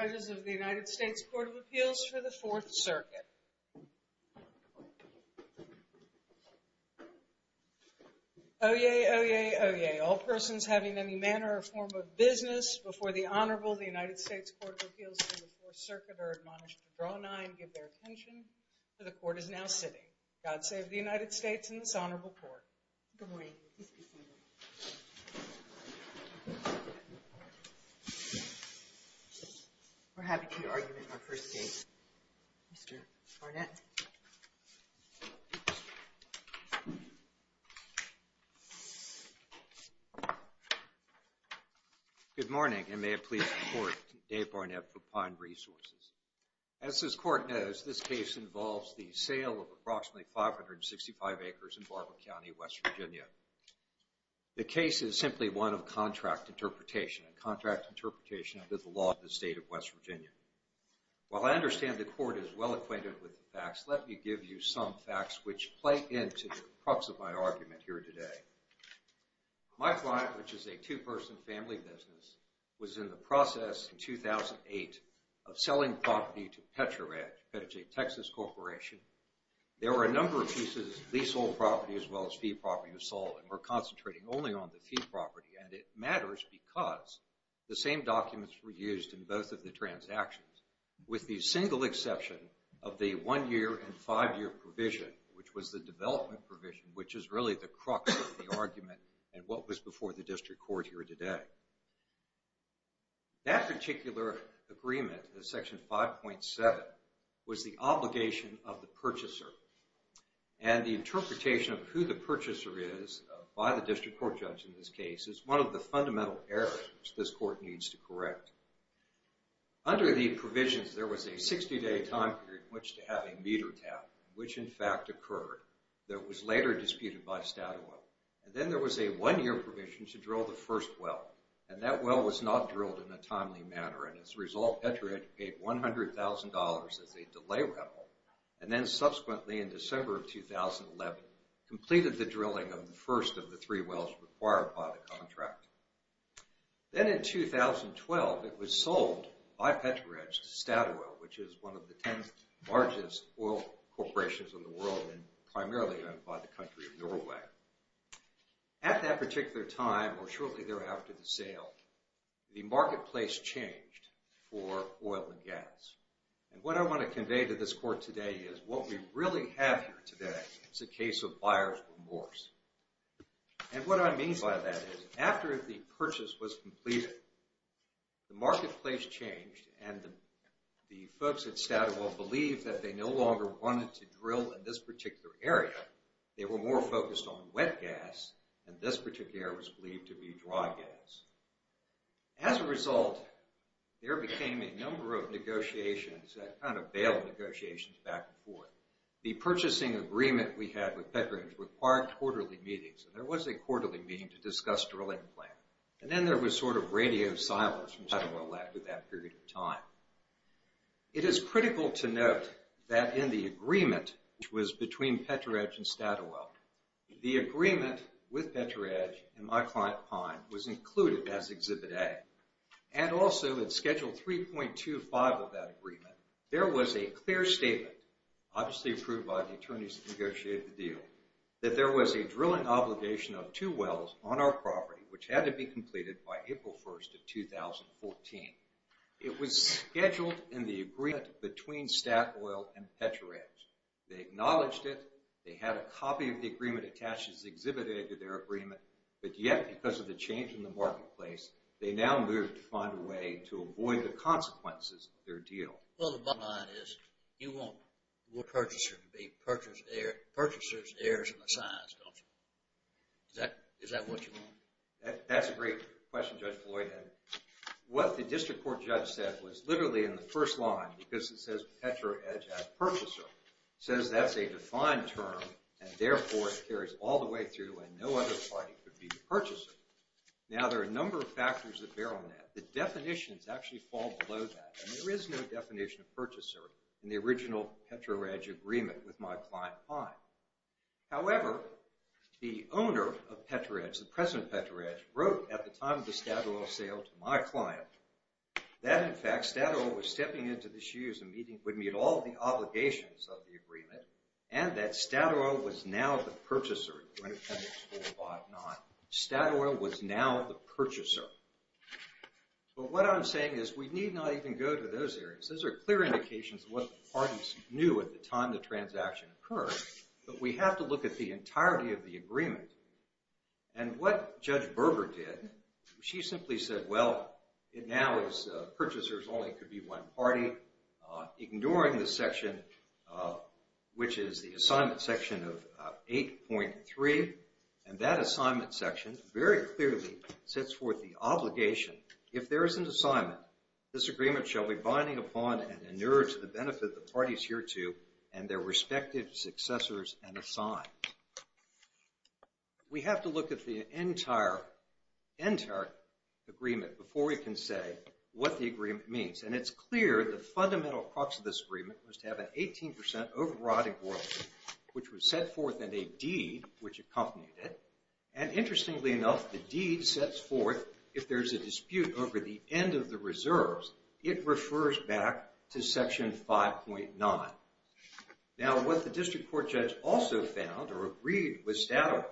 Judges of the United States Court of Appeals for the Fourth Circuit. Oyez, oyez, oyez. All persons having any manner or form of business before the Honorable, the United States Court of Appeals for the Fourth Circuit, are admonished to draw an eye and give their attention to the Court as now sitting. God save the United States and this Honorable Court. Good morning. We're having a key argument in our first case. Mr. Barnett. Good morning and may it please the Court, Dave Barnett for Pine Resources. As this Court knows, this case involves the sale of approximately 565 acres in Barber County, West Virginia. The case is simply one of contract interpretation and contract interpretation under the law of the State of West Virginia. While I understand the Court is well acquainted with the facts, let me give you some facts which play into the crux of my argument here today. My client, which is a two-person family business, was in the process in 2008 of selling property to PetraJ, PetraJ Texas Corporation. There were a number of pieces, leasehold property as well as fee property, was sold and were concentrating only on the fee property. And it matters because the same documents were used in both of the transactions with the single exception of the one-year and five-year provision, which was the development provision, which is really the crux of the argument and what was before the District Court here today. That particular agreement, the Section 5.7, was the obligation of the purchaser. And the interpretation of who the purchaser is by the District Court judge in this case is one of the fundamental errors this Court needs to correct. Under the provisions, there was a 60-day time period in which to have a meter tap, which in fact occurred. That was later disputed by Statoil. And then there was a one-year provision to drill the first well. And that well was not drilled in a timely manner. And as a result, PetraJ paid $100,000 as a delay rebel. And then subsequently, in December of 2011, completed the drilling of the first of the three wells required by the contract. Then in 2012, it was sold by PetraJ to Statoil, which is one of the ten largest oil corporations in the world and primarily owned by the country of Norway. At that particular time, or shortly thereafter the sale, the marketplace changed for oil and gas. And what I want to convey to this Court today is what we really have here today is a case of buyer's remorse. And what I mean by that is after the purchase was completed, the marketplace changed and the folks at Statoil believed that they no longer wanted to drill in this particular area. They were more focused on wet gas, and this particular area was believed to be dry gas. As a result, there became a number of negotiations that kind of bailed negotiations back and forth. The purchasing agreement we had with PetraJ required quarterly meetings, and there was a quarterly meeting to discuss drilling plan. And then there was sort of radio silence from Statoil after that period of time. It is critical to note that in the agreement, which was between PetraJ and Statoil, the agreement with PetraJ and my client Pine was included as Exhibit A. And also in Schedule 3.25 of that agreement, there was a clear statement, obviously approved by the attorneys that negotiated the deal, that there was a drilling obligation of two wells on our property, which had to be completed by April 1st of 2014. It was scheduled in the agreement between Statoil and PetraJ. They acknowledged it. They had a copy of the agreement attached as Exhibit A to their agreement. But yet, because of the change in the marketplace, they now moved to find a way to avoid the consequences of their deal. Well, the bottom line is, you want your purchaser to be purchaser's heirs in the science, don't you? Is that what you want? That's a great question, Judge Floyd. What the district court judge said was literally in the first line, because it says PetraJ as purchaser, says that's a defined term, and therefore it carries all the way through, and no other party could be the purchaser. Now, there are a number of factors that bear on that. The definitions actually fall below that, and there is no definition of purchaser in the original PetraJ agreement with my client Pine. However, the owner of PetraJ, the president of PetraJ, wrote at the time of the Statoil sale to my client, that, in fact, Statoil was stepping into the shoes of meeting all the obligations of the agreement, and that Statoil was now the purchaser. Statoil was now the purchaser. But what I'm saying is, we need not even go to those areas. Those are clear indications of what the parties knew at the time the transaction occurred, and what Judge Berger did, she simply said, well, it now is purchasers only. It could be one party. Ignoring the section, which is the assignment section of 8.3, and that assignment section very clearly sets forth the obligation. If there is an assignment, this agreement shall be binding upon and inured to the benefit of the parties hereto and their respective successors and assigned. We have to look at the entire agreement before we can say what the agreement means. And it's clear the fundamental crux of this agreement was to have an 18% overriding royalty, which was set forth in a deed which accompanied it. And interestingly enough, the deed sets forth, if there's a dispute over the end of the reserves, it refers back to section 5.9. Now, what the district court judge also found, or agreed with Stadawell,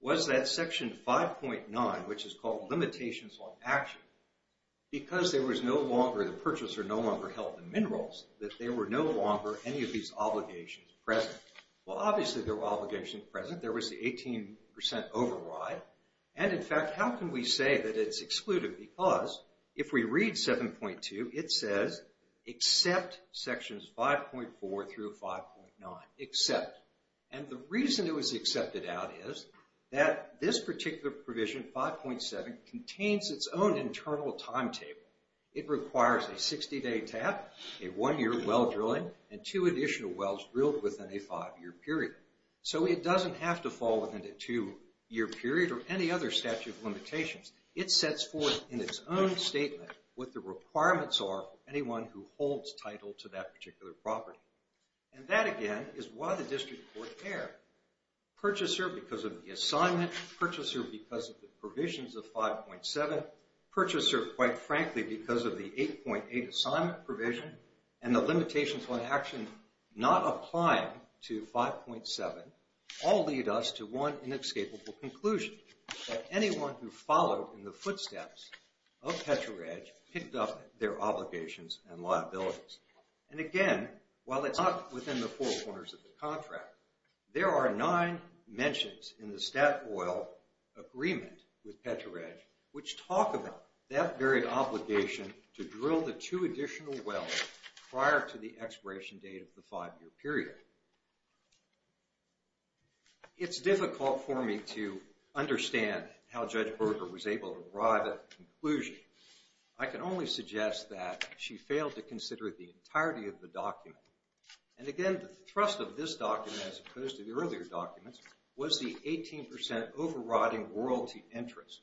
was that section 5.9, which is called limitations on action, because there was no longer, the purchaser no longer held the minerals, that there were no longer any of these obligations present. Well, obviously there were obligations present. There was the 18% override. And in fact, how can we say that it's excluded? Because if we read 7.2, it says except sections 5.4 through 5.9. Except. And the reason it was accepted out is that this particular provision, 5.7, contains its own internal timetable. It requires a 60-day tap, a one-year well drilling, and two additional wells drilled within a five-year period. So it doesn't have to fall within a two-year period or any other statute of limitations. It sets forth in its own statement what the requirements are for anyone who holds title to that particular property. And that, again, is why the district court erred. Purchaser because of the assignment, purchaser because of the provisions of 5.7, purchaser, quite frankly, because of the 8.8 assignment provision, and the limitations on action not applying to 5.7, all lead us to one inescapable conclusion, that anyone who followed in the footsteps of Petro-Reg picked up their obligations and liabilities. And again, while it's not within the four corners of the contract, there are nine mentions in the Statoil agreement with Petro-Reg which talk about that very obligation to drill the two additional wells prior to the expiration date of the five-year period. It's difficult for me to understand how Judge Berger was able to arrive at a conclusion. I can only suggest that she failed to consider the entirety of the document. And again, the thrust of this document as opposed to the earlier documents was the 18% overriding royalty interest.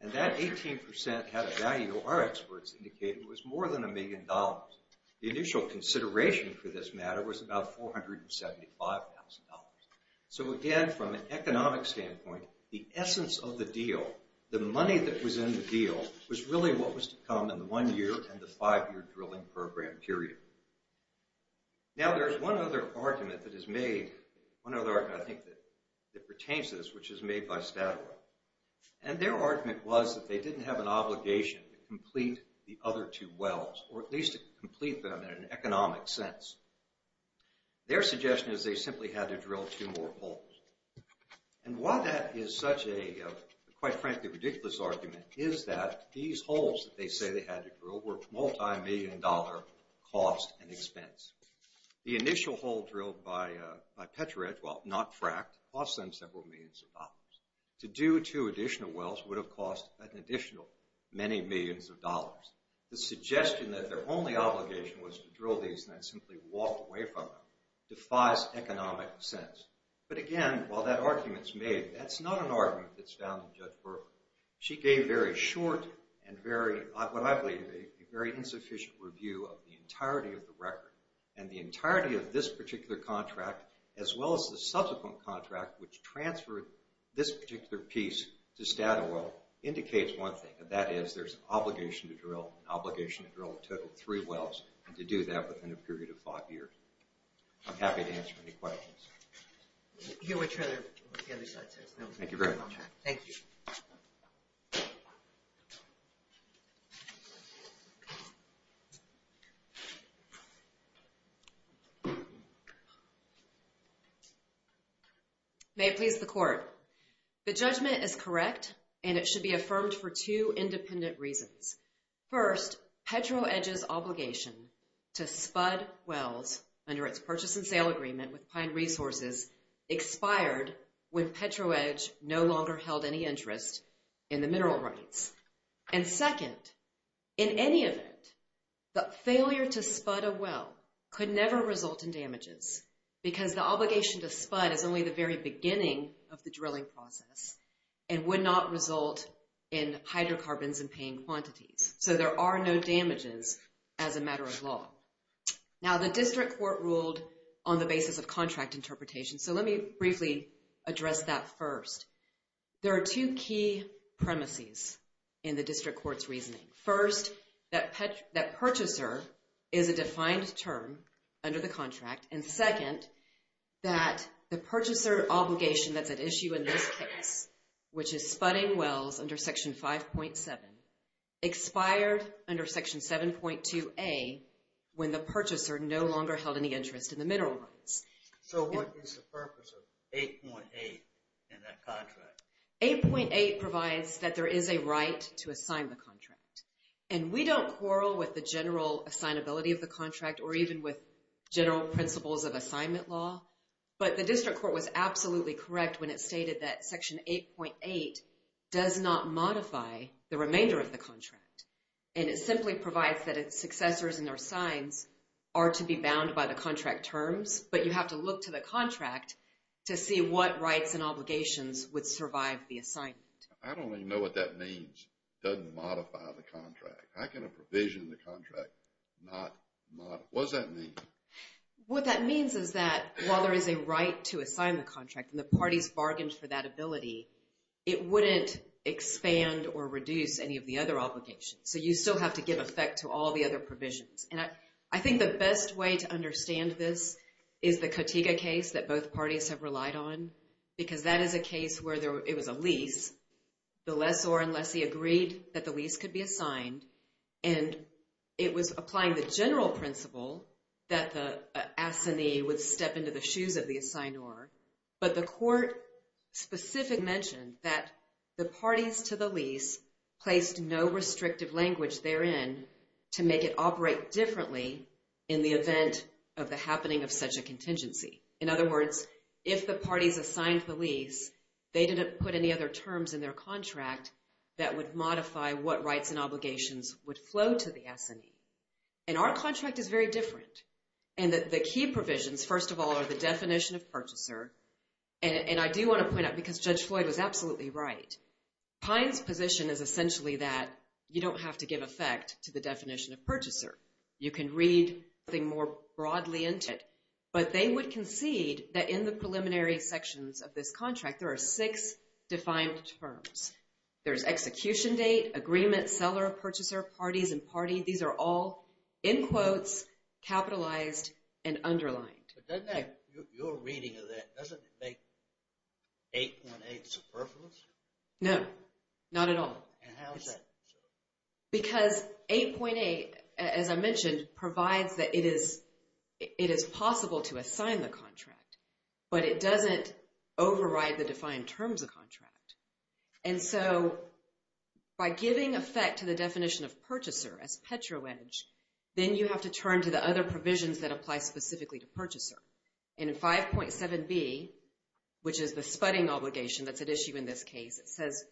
And that 18% had a value our experts indicated was more than a million dollars. The initial consideration for this matter was about $475,000. So again, from an economic standpoint, the essence of the deal, the money that was in the deal, was really what was to come in the one-year and the five-year drilling program period. Now there's one other argument that is made, one other argument I think that pertains to this, which is made by Statoil. And their argument was that they didn't have an obligation to complete the other two wells, or at least complete them in an economic sense. Their suggestion is they simply had to drill two more holes. And while that is such a, quite frankly, ridiculous argument, is that these holes that they say they had to drill were multi-million dollar cost and expense. The initial hole drilled by Petra Edge, well, not Fract, cost them several millions of dollars. To do two additional wells would have cost an additional many millions of dollars. The suggestion that their only obligation was to drill these and then simply walk away from them defies economic sense. But again, while that argument's made, that's not an argument that's found in Judge Berkley. She gave very short and very, what I believe, a very insufficient review of the entirety of the record. And the entirety of this particular contract, as well as the subsequent contract, which transferred this particular piece to Statoil, indicates one thing, and that is there's an obligation to drill, an obligation to drill a total of three wells, and to do that within a period of five years. I'm happy to answer any questions. Here with Trevor, on the other side. Thank you very much. Thank you. May it please the Court. The judgment is correct, and it should be affirmed for two independent reasons. First, Petra Edge's obligation to spud wells under its purchase and sale agreement with Pine Resources expired when Petra Edge no longer held any interest in the mineral rights. And second, in any event, the failure to spud a well could never result in damages because the obligation to spud is only the very beginning of the drilling process and would not result in hydrocarbons in paying quantities. So there are no damages as a matter of law. Now, the district court ruled on the basis of contract interpretation, so let me briefly address that first. There are two key premises in the district court's reasoning. First, that purchaser is a defined term under the contract and second, that the purchaser obligation that's at issue in this case, which is spudding wells under Section 5.7, expired under Section 7.2a when the purchaser no longer held any interest in the mineral rights. So what is the purpose of 8.8 in that contract? 8.8 provides that there is a right to assign the contract. And we don't quarrel with the general assignability of the contract or even with general principles of assignment law, but the district court was absolutely correct when it stated that Section 8.8 does not modify the remainder of the contract. And it simply provides that its successors and their signs are to be bound by the contract terms, but you have to look to the contract to see what rights and obligations would survive the assignment. I don't even know what that means, doesn't modify the contract. How can a provision in the contract not modify? What does that mean? What that means is that while there is a right to assign the contract and the parties bargained for that ability, it wouldn't expand or reduce any of the other obligations. So you still have to give effect to all the other provisions. And I think the best way to understand this is the Katiga case that both parties have relied on because that is a case where it was a lease. The lessor and lessee agreed that the lease could be assigned and it was applying the general principle that the assignee would step into the shoes of the assignor, but the court specifically mentioned that the parties to the lease placed no restrictive language therein to make it operate differently in the event of the happening of such a contingency. In other words, if the parties assigned the lease, they didn't put any other terms in their contract that would modify what rights and obligations would flow to the assignee. And our contract is very different. And the key provisions, first of all, are the definition of purchaser. And I do want to point out, because Judge Floyd was absolutely right, Pine's position is essentially that you don't have to give effect to the definition of purchaser. You can read the more broadly into it. But they would concede that in the preliminary sections of this contract, there are six defined terms. There's execution date, agreement, seller, purchaser, parties, and party. These are all, in quotes, capitalized and underlined. But doesn't that, your reading of that, doesn't it make 8.8 superfluous? No, not at all. And how is that? Because 8.8, as I mentioned, provides that it is possible to assign the contract. But it doesn't override the defined terms of contract. And so by giving effect to the definition of purchaser, as PetroEdge, then you have to turn to the other provisions that apply specifically to purchaser. And in 5.7b, which is the spudding obligation that's at issue in this case, it says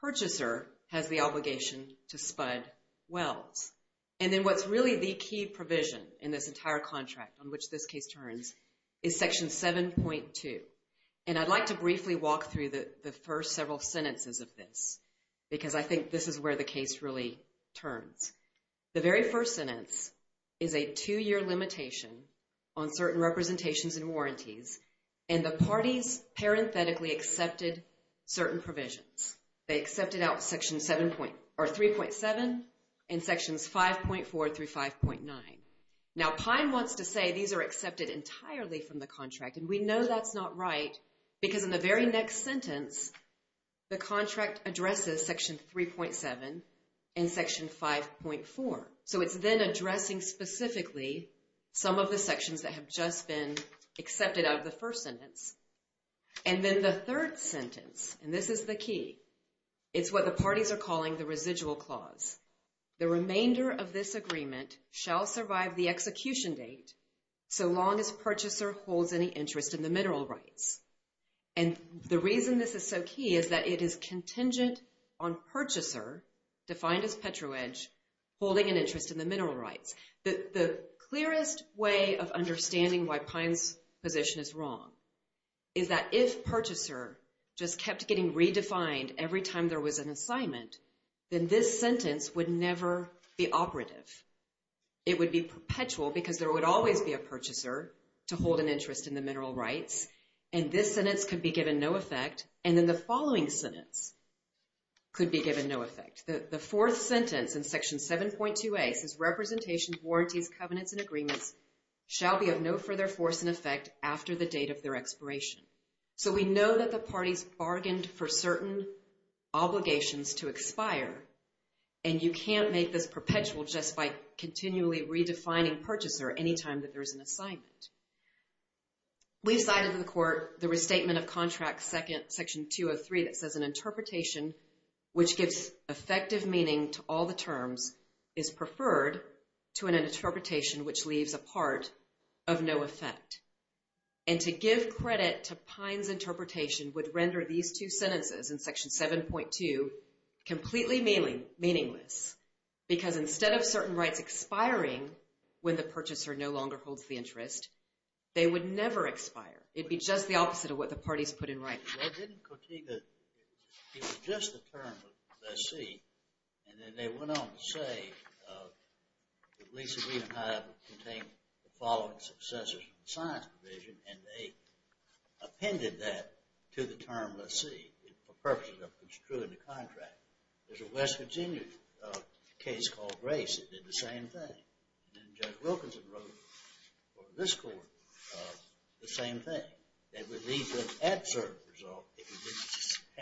purchaser has the obligation to spud wells. And then what's really the key provision in this entire contract, on which this case turns, is Section 7.2. And I'd like to briefly walk through the first several sentences of this because I think this is where the case really turns. The very first sentence is a two-year limitation on certain representations and warranties. And the parties parenthetically accepted certain provisions. They accepted out Section 3.7 and Sections 5.4 through 5.9. Now, Pine wants to say these are accepted entirely from the contract. And we know that's not right because in the very next sentence, the contract addresses Section 3.7 and Section 5.4. So it's then addressing specifically some of the sections that have just been accepted out of the first sentence. And then the third sentence, and this is the key, it's what the parties are calling the residual clause. The remainder of this agreement shall survive the execution date so long as purchaser holds any interest in the mineral rights. And the reason this is so key is that it is contingent on purchaser, defined as petro-edge, holding an interest in the mineral rights. The clearest way of understanding why Pine's position is wrong is that if purchaser just kept getting redefined every time there was an assignment, then this sentence would never be operative. It would be perpetual because there would always be a purchaser to hold an interest in the mineral rights. And this sentence could be given no effect. And then the following sentence could be given no effect. The fourth sentence in Section 7.2a says, Representation, Warranties, Covenants, and Agreements shall be of no further force in effect after the date of their expiration. So we know that the parties bargained for certain obligations to expire. And you can't make this perpetual just by continually redefining purchaser any time that there's an assignment. We've cited in the Court the Restatement of Contracts, Section 203, that says an interpretation which gives effective meaning to all the terms is preferred to an interpretation which leaves a part of no effect. And to give credit to Pine's interpretation would render these two sentences in Section 7.2 completely meaningless. Because instead of certain rights expiring when the purchaser no longer holds the interest, they would never expire. It would be just the opposite of what the parties put in writing. Well, didn't Kotyga, it was just a term of lessee, and then they went on to say that Lisa Reed and I contained the following successors of the science provision, and they appended that to the term lessee for purposes of construing the contract. There's a West Virginia case called Grace that did the same thing. And then Judge Wilkinson wrote for this Court the same thing. They would leave an absurd result if you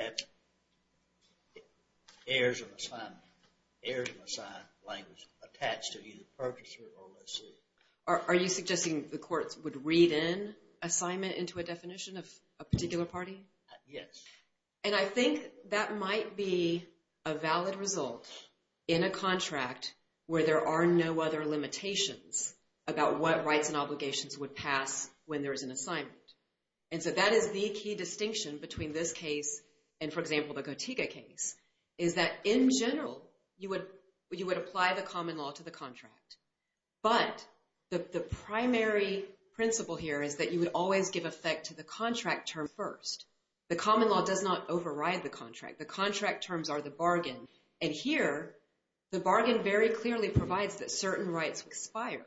didn't have heirs of assignment, language attached to either purchaser or lessee. Are you suggesting the courts would read in assignment into a definition of a particular party? Yes. And I think that might be a valid result in a contract where there are no other limitations about what rights and obligations would pass when there is an assignment. And so that is the key distinction between this case and, for example, the Kotyga case, is that, in general, you would apply the common law to the contract. But the primary principle here is that you would always give effect to the contract term first. The common law does not override the contract. The contract terms are the bargain. And here, the bargain very clearly provides that certain rights expire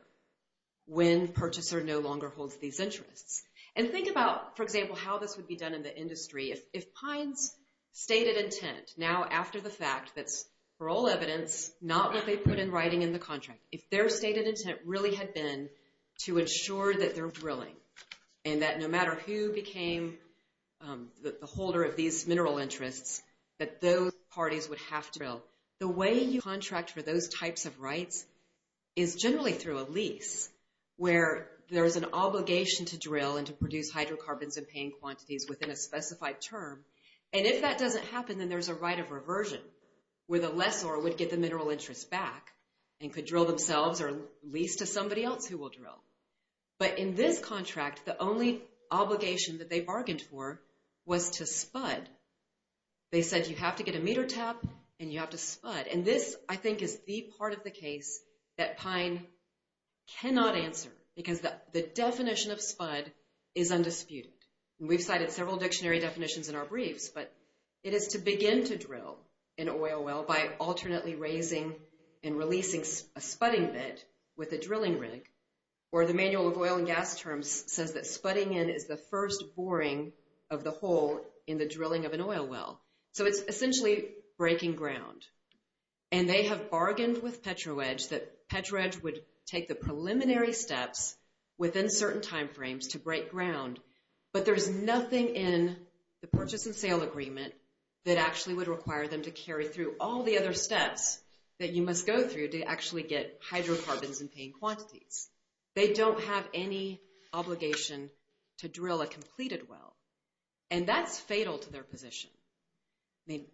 when purchaser no longer holds these interests. And think about, for example, how this would be done in the industry if Pine's stated intent, now after the fact, that's, for all evidence, not what they put in writing in the contract. If their stated intent really had been to ensure that they're drilling and that no matter who became the holder of these mineral interests, that those parties would have to drill. The way you contract for those types of rights is generally through a lease where there is an obligation to drill and to produce hydrocarbons in paying quantities within a specified term. And if that doesn't happen, then there's a right of reversion where the lessor would get the mineral interests back and could drill themselves or lease to somebody else who will drill. But in this contract, the only obligation that they bargained for was to spud. They said you have to get a meter tap and you have to spud. And this, I think, is the part of the case that Pine cannot answer because the definition of spud is undisputed. We've cited several dictionary definitions in our briefs, but it is to begin to drill an oil well by alternately raising and releasing a spudding bed with a drilling rig. Or the Manual of Oil and Gas Terms says that spudding in is the first boring of the hole in the drilling of an oil well. So it's essentially breaking ground. And they have bargained with Petro-Edge that Petro-Edge would take the preliminary steps within certain time frames to break ground, but there's nothing in the purchase and sale agreement that actually would require them to carry through all the other steps that you must go through to actually get hydrocarbons in paying quantities. They don't have any obligation to drill a completed well. And that's fatal to their position.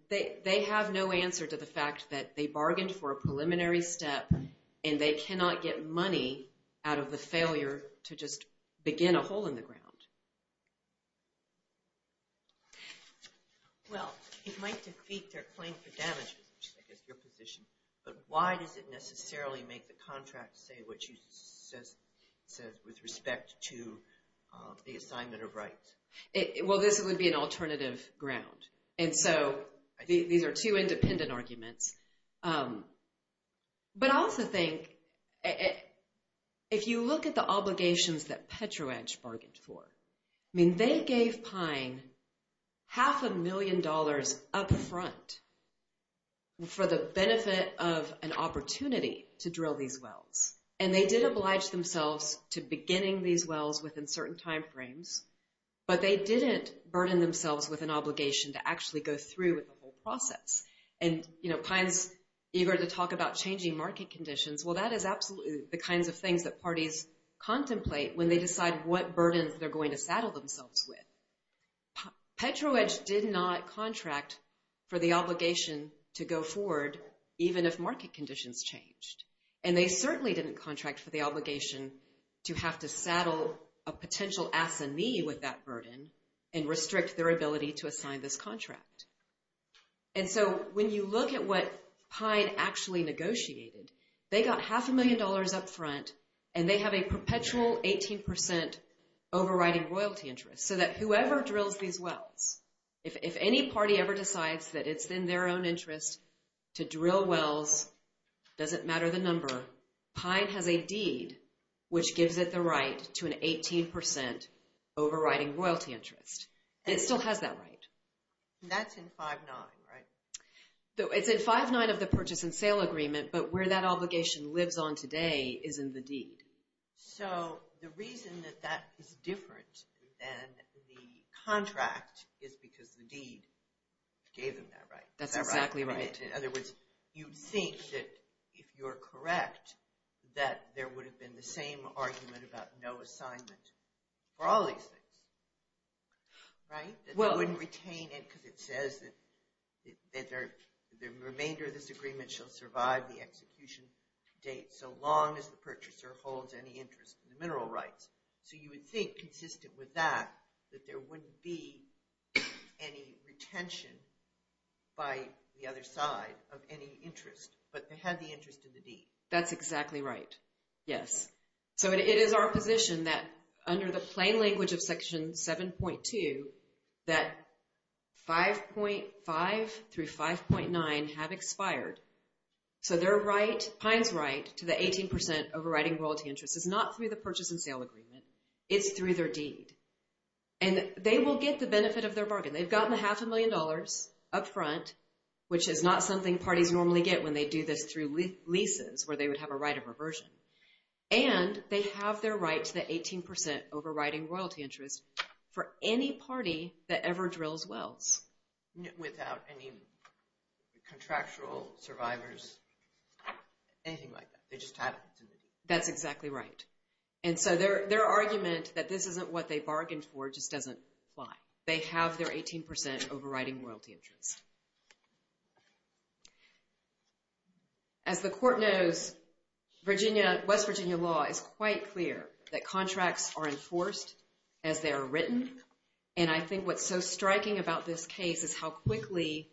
They have no answer to the fact that they bargained for a preliminary step and they cannot get money out of the failure to just begin a hole in the ground. Well, it might defeat their claim for damages, which I guess is your position, but why does it necessarily make the contract say what it says with respect to the assignment of rights? Well, this would be an alternative ground. And so these are two independent arguments. But I also think if you look at the obligations that Petro-Edge bargained for, I mean, they gave Pine half a million dollars up front for the benefit of an opportunity to drill these wells. And they did oblige themselves to beginning these wells within certain time frames, but they didn't burden themselves with an obligation to actually go through with the whole process. And, you know, Pine's eager to talk about changing market conditions. Well, that is absolutely the kinds of things that parties contemplate when they decide what burdens they're going to saddle themselves with. Petro-Edge did not contract for the obligation to go forward even if market conditions changed. And they certainly didn't contract for the obligation to have to saddle a potential assignee with that burden and restrict their ability to assign this contract. And so when you look at what Pine actually negotiated, they got half a million dollars up front, and they have a perpetual 18% overriding royalty interest. So that whoever drills these wells, if any party ever decides that it's in their own interest to drill wells, doesn't matter the number, Pine has a deed which gives it the right to an 18% overriding royalty interest. It still has that right. And that's in 5-9, right? It's in 5-9 of the purchase and sale agreement, but where that obligation lives on today is in the deed. So the reason that that is different than the contract is because the deed gave them that right. That's exactly right. In other words, you think that if you're correct, that there would have been the same argument about no assignment for all these things, right? That they wouldn't retain it because it says that the remainder of this agreement shall survive the execution date so long as the purchaser holds any interest in the mineral rights. So you would think, consistent with that, that there wouldn't be any retention by the other side of any interest, but they had the interest in the deed. That's exactly right, yes. So it is our position that under the plain language of Section 7.2, that 5.5 through 5.9 have expired. So their right, Pines' right, to the 18% overriding royalty interest is not through the purchase and sale agreement. It's through their deed. And they will get the benefit of their bargain. They've gotten a half a million dollars up front, which is not something parties normally get when they do this through leases, where they would have a right of reversion. And they have their right to the 18% overriding royalty interest for any party that ever drills wells. Without any contractual survivors, anything like that. They just had it. That's exactly right. And so their argument that this isn't what they bargained for just doesn't apply. They have their 18% overriding royalty interest. As the court knows, West Virginia law is quite clear that contracts are enforced as they are written. And I think what's so striking about this case is how quickly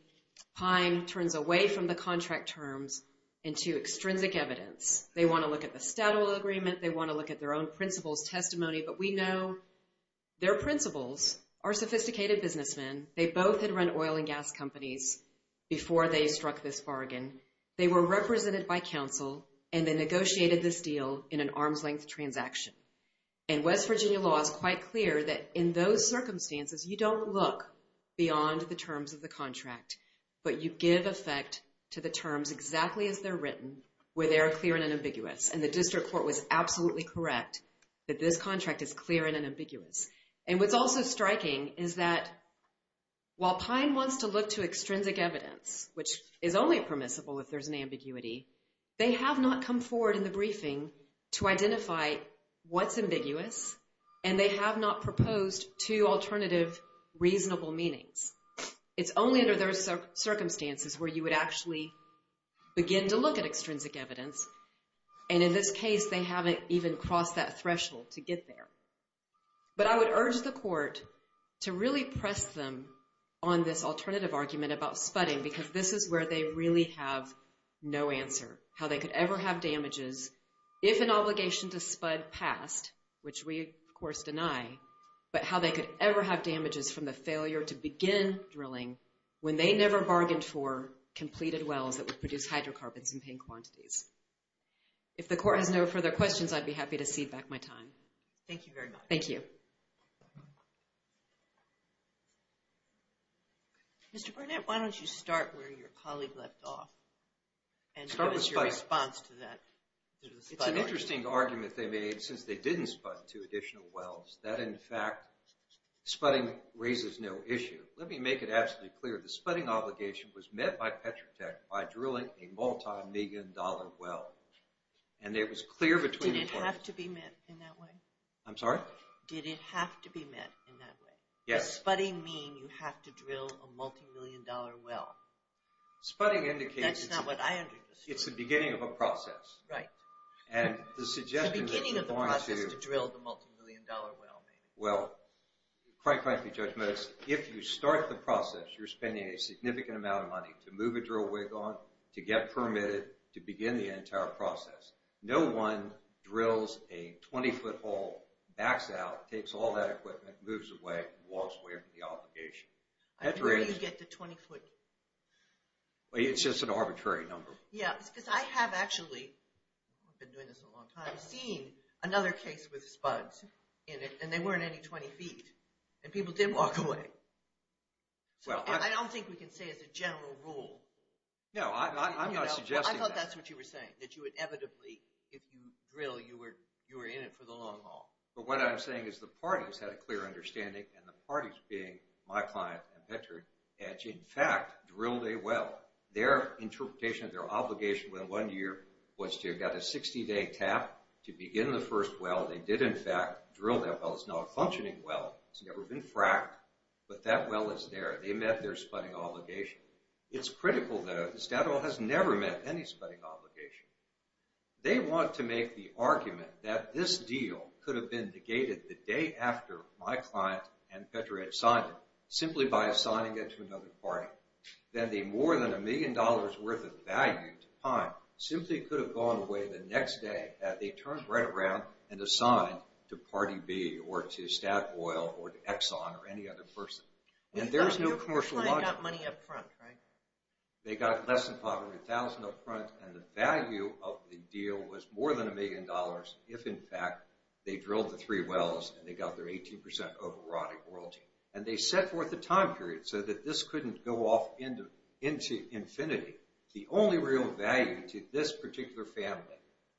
Pine turns away from the contract terms into extrinsic evidence. They want to look at the stat oil agreement. They want to look at their own principles testimony. But we know their principles are sophisticated businessmen. They both had run oil and gas companies before they struck this bargain. They were represented by counsel and they negotiated this deal in an arm's length transaction. And West Virginia law is quite clear that in those circumstances, you don't look beyond the terms of the contract. But you give effect to the terms exactly as they're written, where they are clear and ambiguous. And the district court was absolutely correct that this contract is clear and ambiguous. And what's also striking is that while Pine wants to look to extrinsic evidence, which is only permissible if there's an ambiguity, they have not come forward in the briefing to identify what's ambiguous and they have not proposed two alternative reasonable meanings. It's only under those circumstances where you would actually begin to look at extrinsic evidence. And in this case, they haven't even crossed that threshold to get there. But I would urge the court to really press them on this alternative argument about spudding because this is where they really have no answer, how they could ever have damages if an obligation to spud passed, which we, of course, deny, but how they could ever have damages from the failure to begin drilling when they never bargained for completed wells that would produce hydrocarbons in paying quantities. If the court has no further questions, I'd be happy to cede back my time. Thank you very much. Thank you. Mr. Burnett, why don't you start where your colleague left off and what is your response to that? It's an interesting argument they made since they didn't spud two additional wells that, in fact, spudding raises no issue. Let me make it absolutely clear, the spudding obligation was met by Petrotech by drilling a multi-million dollar well and it was clear between the parties. Did it have to be met in that way? I'm sorry? Did it have to be met in that way? Yes. Does spudding mean you have to drill a multi-million dollar well? Spudding indicates... That's not what I understood. It's the beginning of a process. Right. And the suggestion that you're going to... The beginning of the process to drill the multi-million dollar well, maybe. Well, quite frankly, Judge Motis, if you start the process, you're spending a significant amount of money to move a drill wick on, to get permitted, to begin the entire process. No one drills a 20-foot hole, backs out, takes all that equipment, moves away, and walks away from the obligation. Where do you get the 20-foot? It's just an arbitrary number. Yes, because I have actually... I've been doing this a long time. I've seen another case with spuds in it and they weren't any 20 feet and people did walk away. I don't think we can say it's a general rule. No, I'm not suggesting that. I thought that's what you were saying, that you inevitably, if you drill, you were in it for the long haul. But what I'm saying is the parties had a clear understanding and the parties being my client and Petr had, in fact, drilled a well. Their interpretation of their obligation within one year was to get a 60-day tap to begin the first well. They did, in fact, drill that well. It's now a functioning well. It's never been fracked, but that well is there. They met their spudding obligation. It's critical, though. Statoil has never met any spudding obligation. They want to make the argument that this deal could have been negated the day after my client and Petr had signed it, simply by assigning it to another party. Then the more than a million dollars worth of value to Pine simply could have gone away the next day had they turned right around and assigned to Party B or to Statoil or to Exxon or any other person. And there's no commercial logic. Your client got money up front, right? They got less than $500,000 up front, and the value of the deal was more than a million dollars if, in fact, they drilled the three wells and they got their 18% overriding royalty. And they set forth a time period so that this couldn't go off into infinity. The only real value to this particular family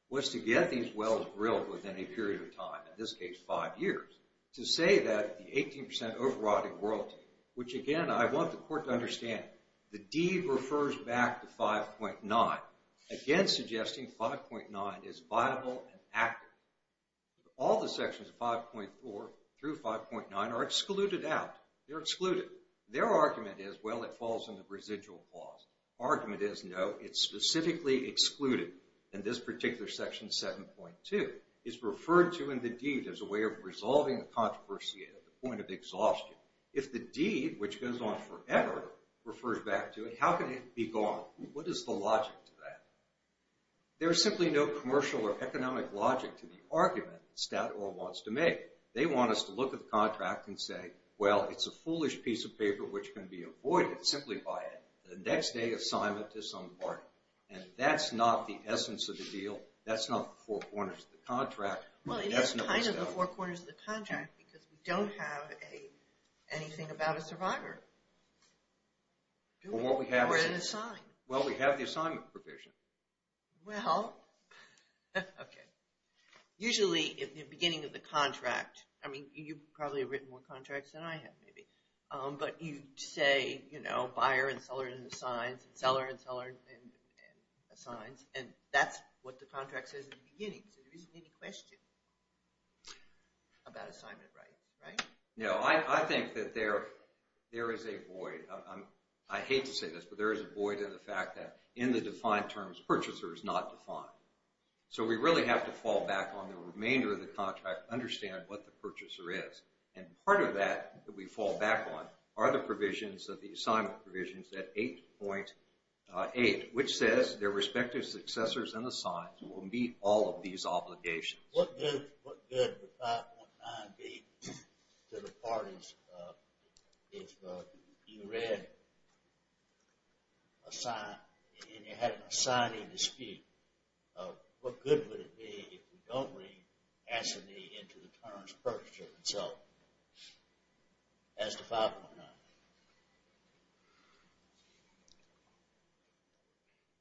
was to get these wells drilled within a period of time, in this case, five years, to say that the 18% overriding royalty, which, again, I want the court to understand the deed refers back to 5.9, again suggesting 5.9 is viable and active. All the sections of 5.4 through 5.9 are excluded out. They're excluded. Their argument is, well, it falls in the residual clause. Argument is, no, it's specifically excluded. And this particular section, 7.2, is referred to in the deed as a way of resolving the controversy at the point of exhaustion. If the deed, which goes on forever, refers back to it, how can it be gone? What is the logic to that? There is simply no commercial or economic logic to the argument Statoil wants to make. They want us to look at the contract and say, well, it's a foolish piece of paper which can be avoided simply by a next-day assignment to some party. And that's not the essence of the deal. Well, it is kind of the four corners of the contract because we don't have anything about a survivor. Or an assignment. Well, we have the assignment provision. Well, okay. Usually, at the beginning of the contract, I mean, you've probably written more contracts than I have, maybe. But you say, you know, buyer and seller and assigns, and seller and seller and assigns. And that's what the contract says at the beginning. So there isn't any question about assignment rights, right? No, I think that there is a void. I hate to say this, but there is a void in the fact that in the defined terms, purchaser is not defined. So we really have to fall back on the remainder of the contract to understand what the purchaser is. And part of that that we fall back on are the provisions of the assignment provisions at 8.8, which says their respective successors and assigns will meet all of these obligations. What good would 5.9 be to the parties if you read assign and you had an assigning dispute? What good would it be if we don't read assignee into the terms purchaser itself? As to 5.9.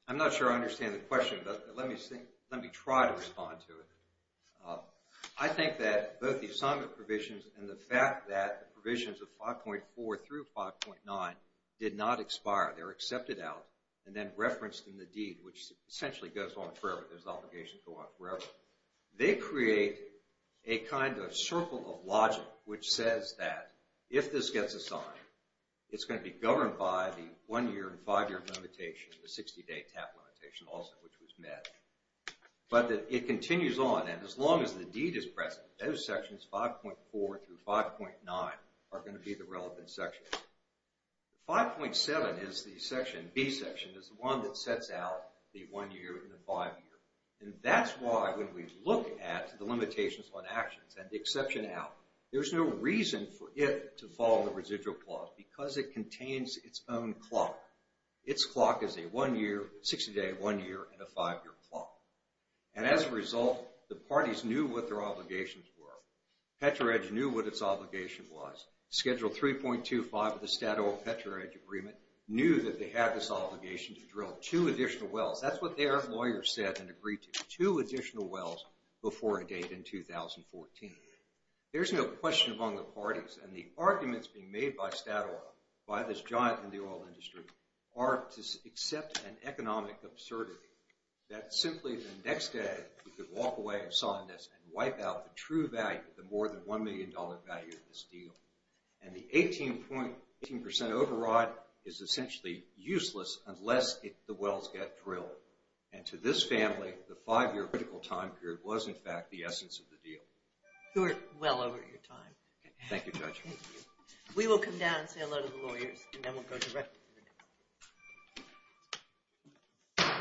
I'm not sure I understand the question, but let me try to respond to it. I think that both the assignment provisions and the fact that the provisions of 5.4 through 5.9 did not expire. They were accepted out and then referenced in the deed, which essentially goes on forever. Those obligations go on forever. They create a kind of circle of logic which says that if this gets assigned, it's going to be governed by the one-year and five-year limitation, the 60-day TAP limitation also, which was met. But it continues on, and as long as the deed is present, those sections 5.4 through 5.9 are going to be the relevant sections. 5.7 is the section, B section, is the one that sets out the one-year and the five-year. And that's why when we look at the limitations on actions and the exception out, there's no reason for it to follow the residual clause because it contains its own clock. Its clock is a 60-day, one-year, and a five-year clock. And as a result, the parties knew what their obligations were. Petro-Edge knew what its obligation was. Schedule 3.25 of the Statoil-Petro-Edge agreement knew that they had this obligation to drill two additional wells. That's what their lawyer said and agreed to, two additional wells before a date in 2014. There's no question among the parties, and the arguments being made by Statoil, by this giant in the oil industry, are to accept an economic absurdity that simply the next day we could walk away of sawdust and wipe out the true value, the more than $1 million value of this deal. And the 18% override is essentially useless unless the wells get drilled. And to this family, the five-year critical time period was, in fact, the essence of the deal. You're well over your time. Thank you, Judge. We will come down and say hello to the lawyers, and then we'll go directly to the next panel.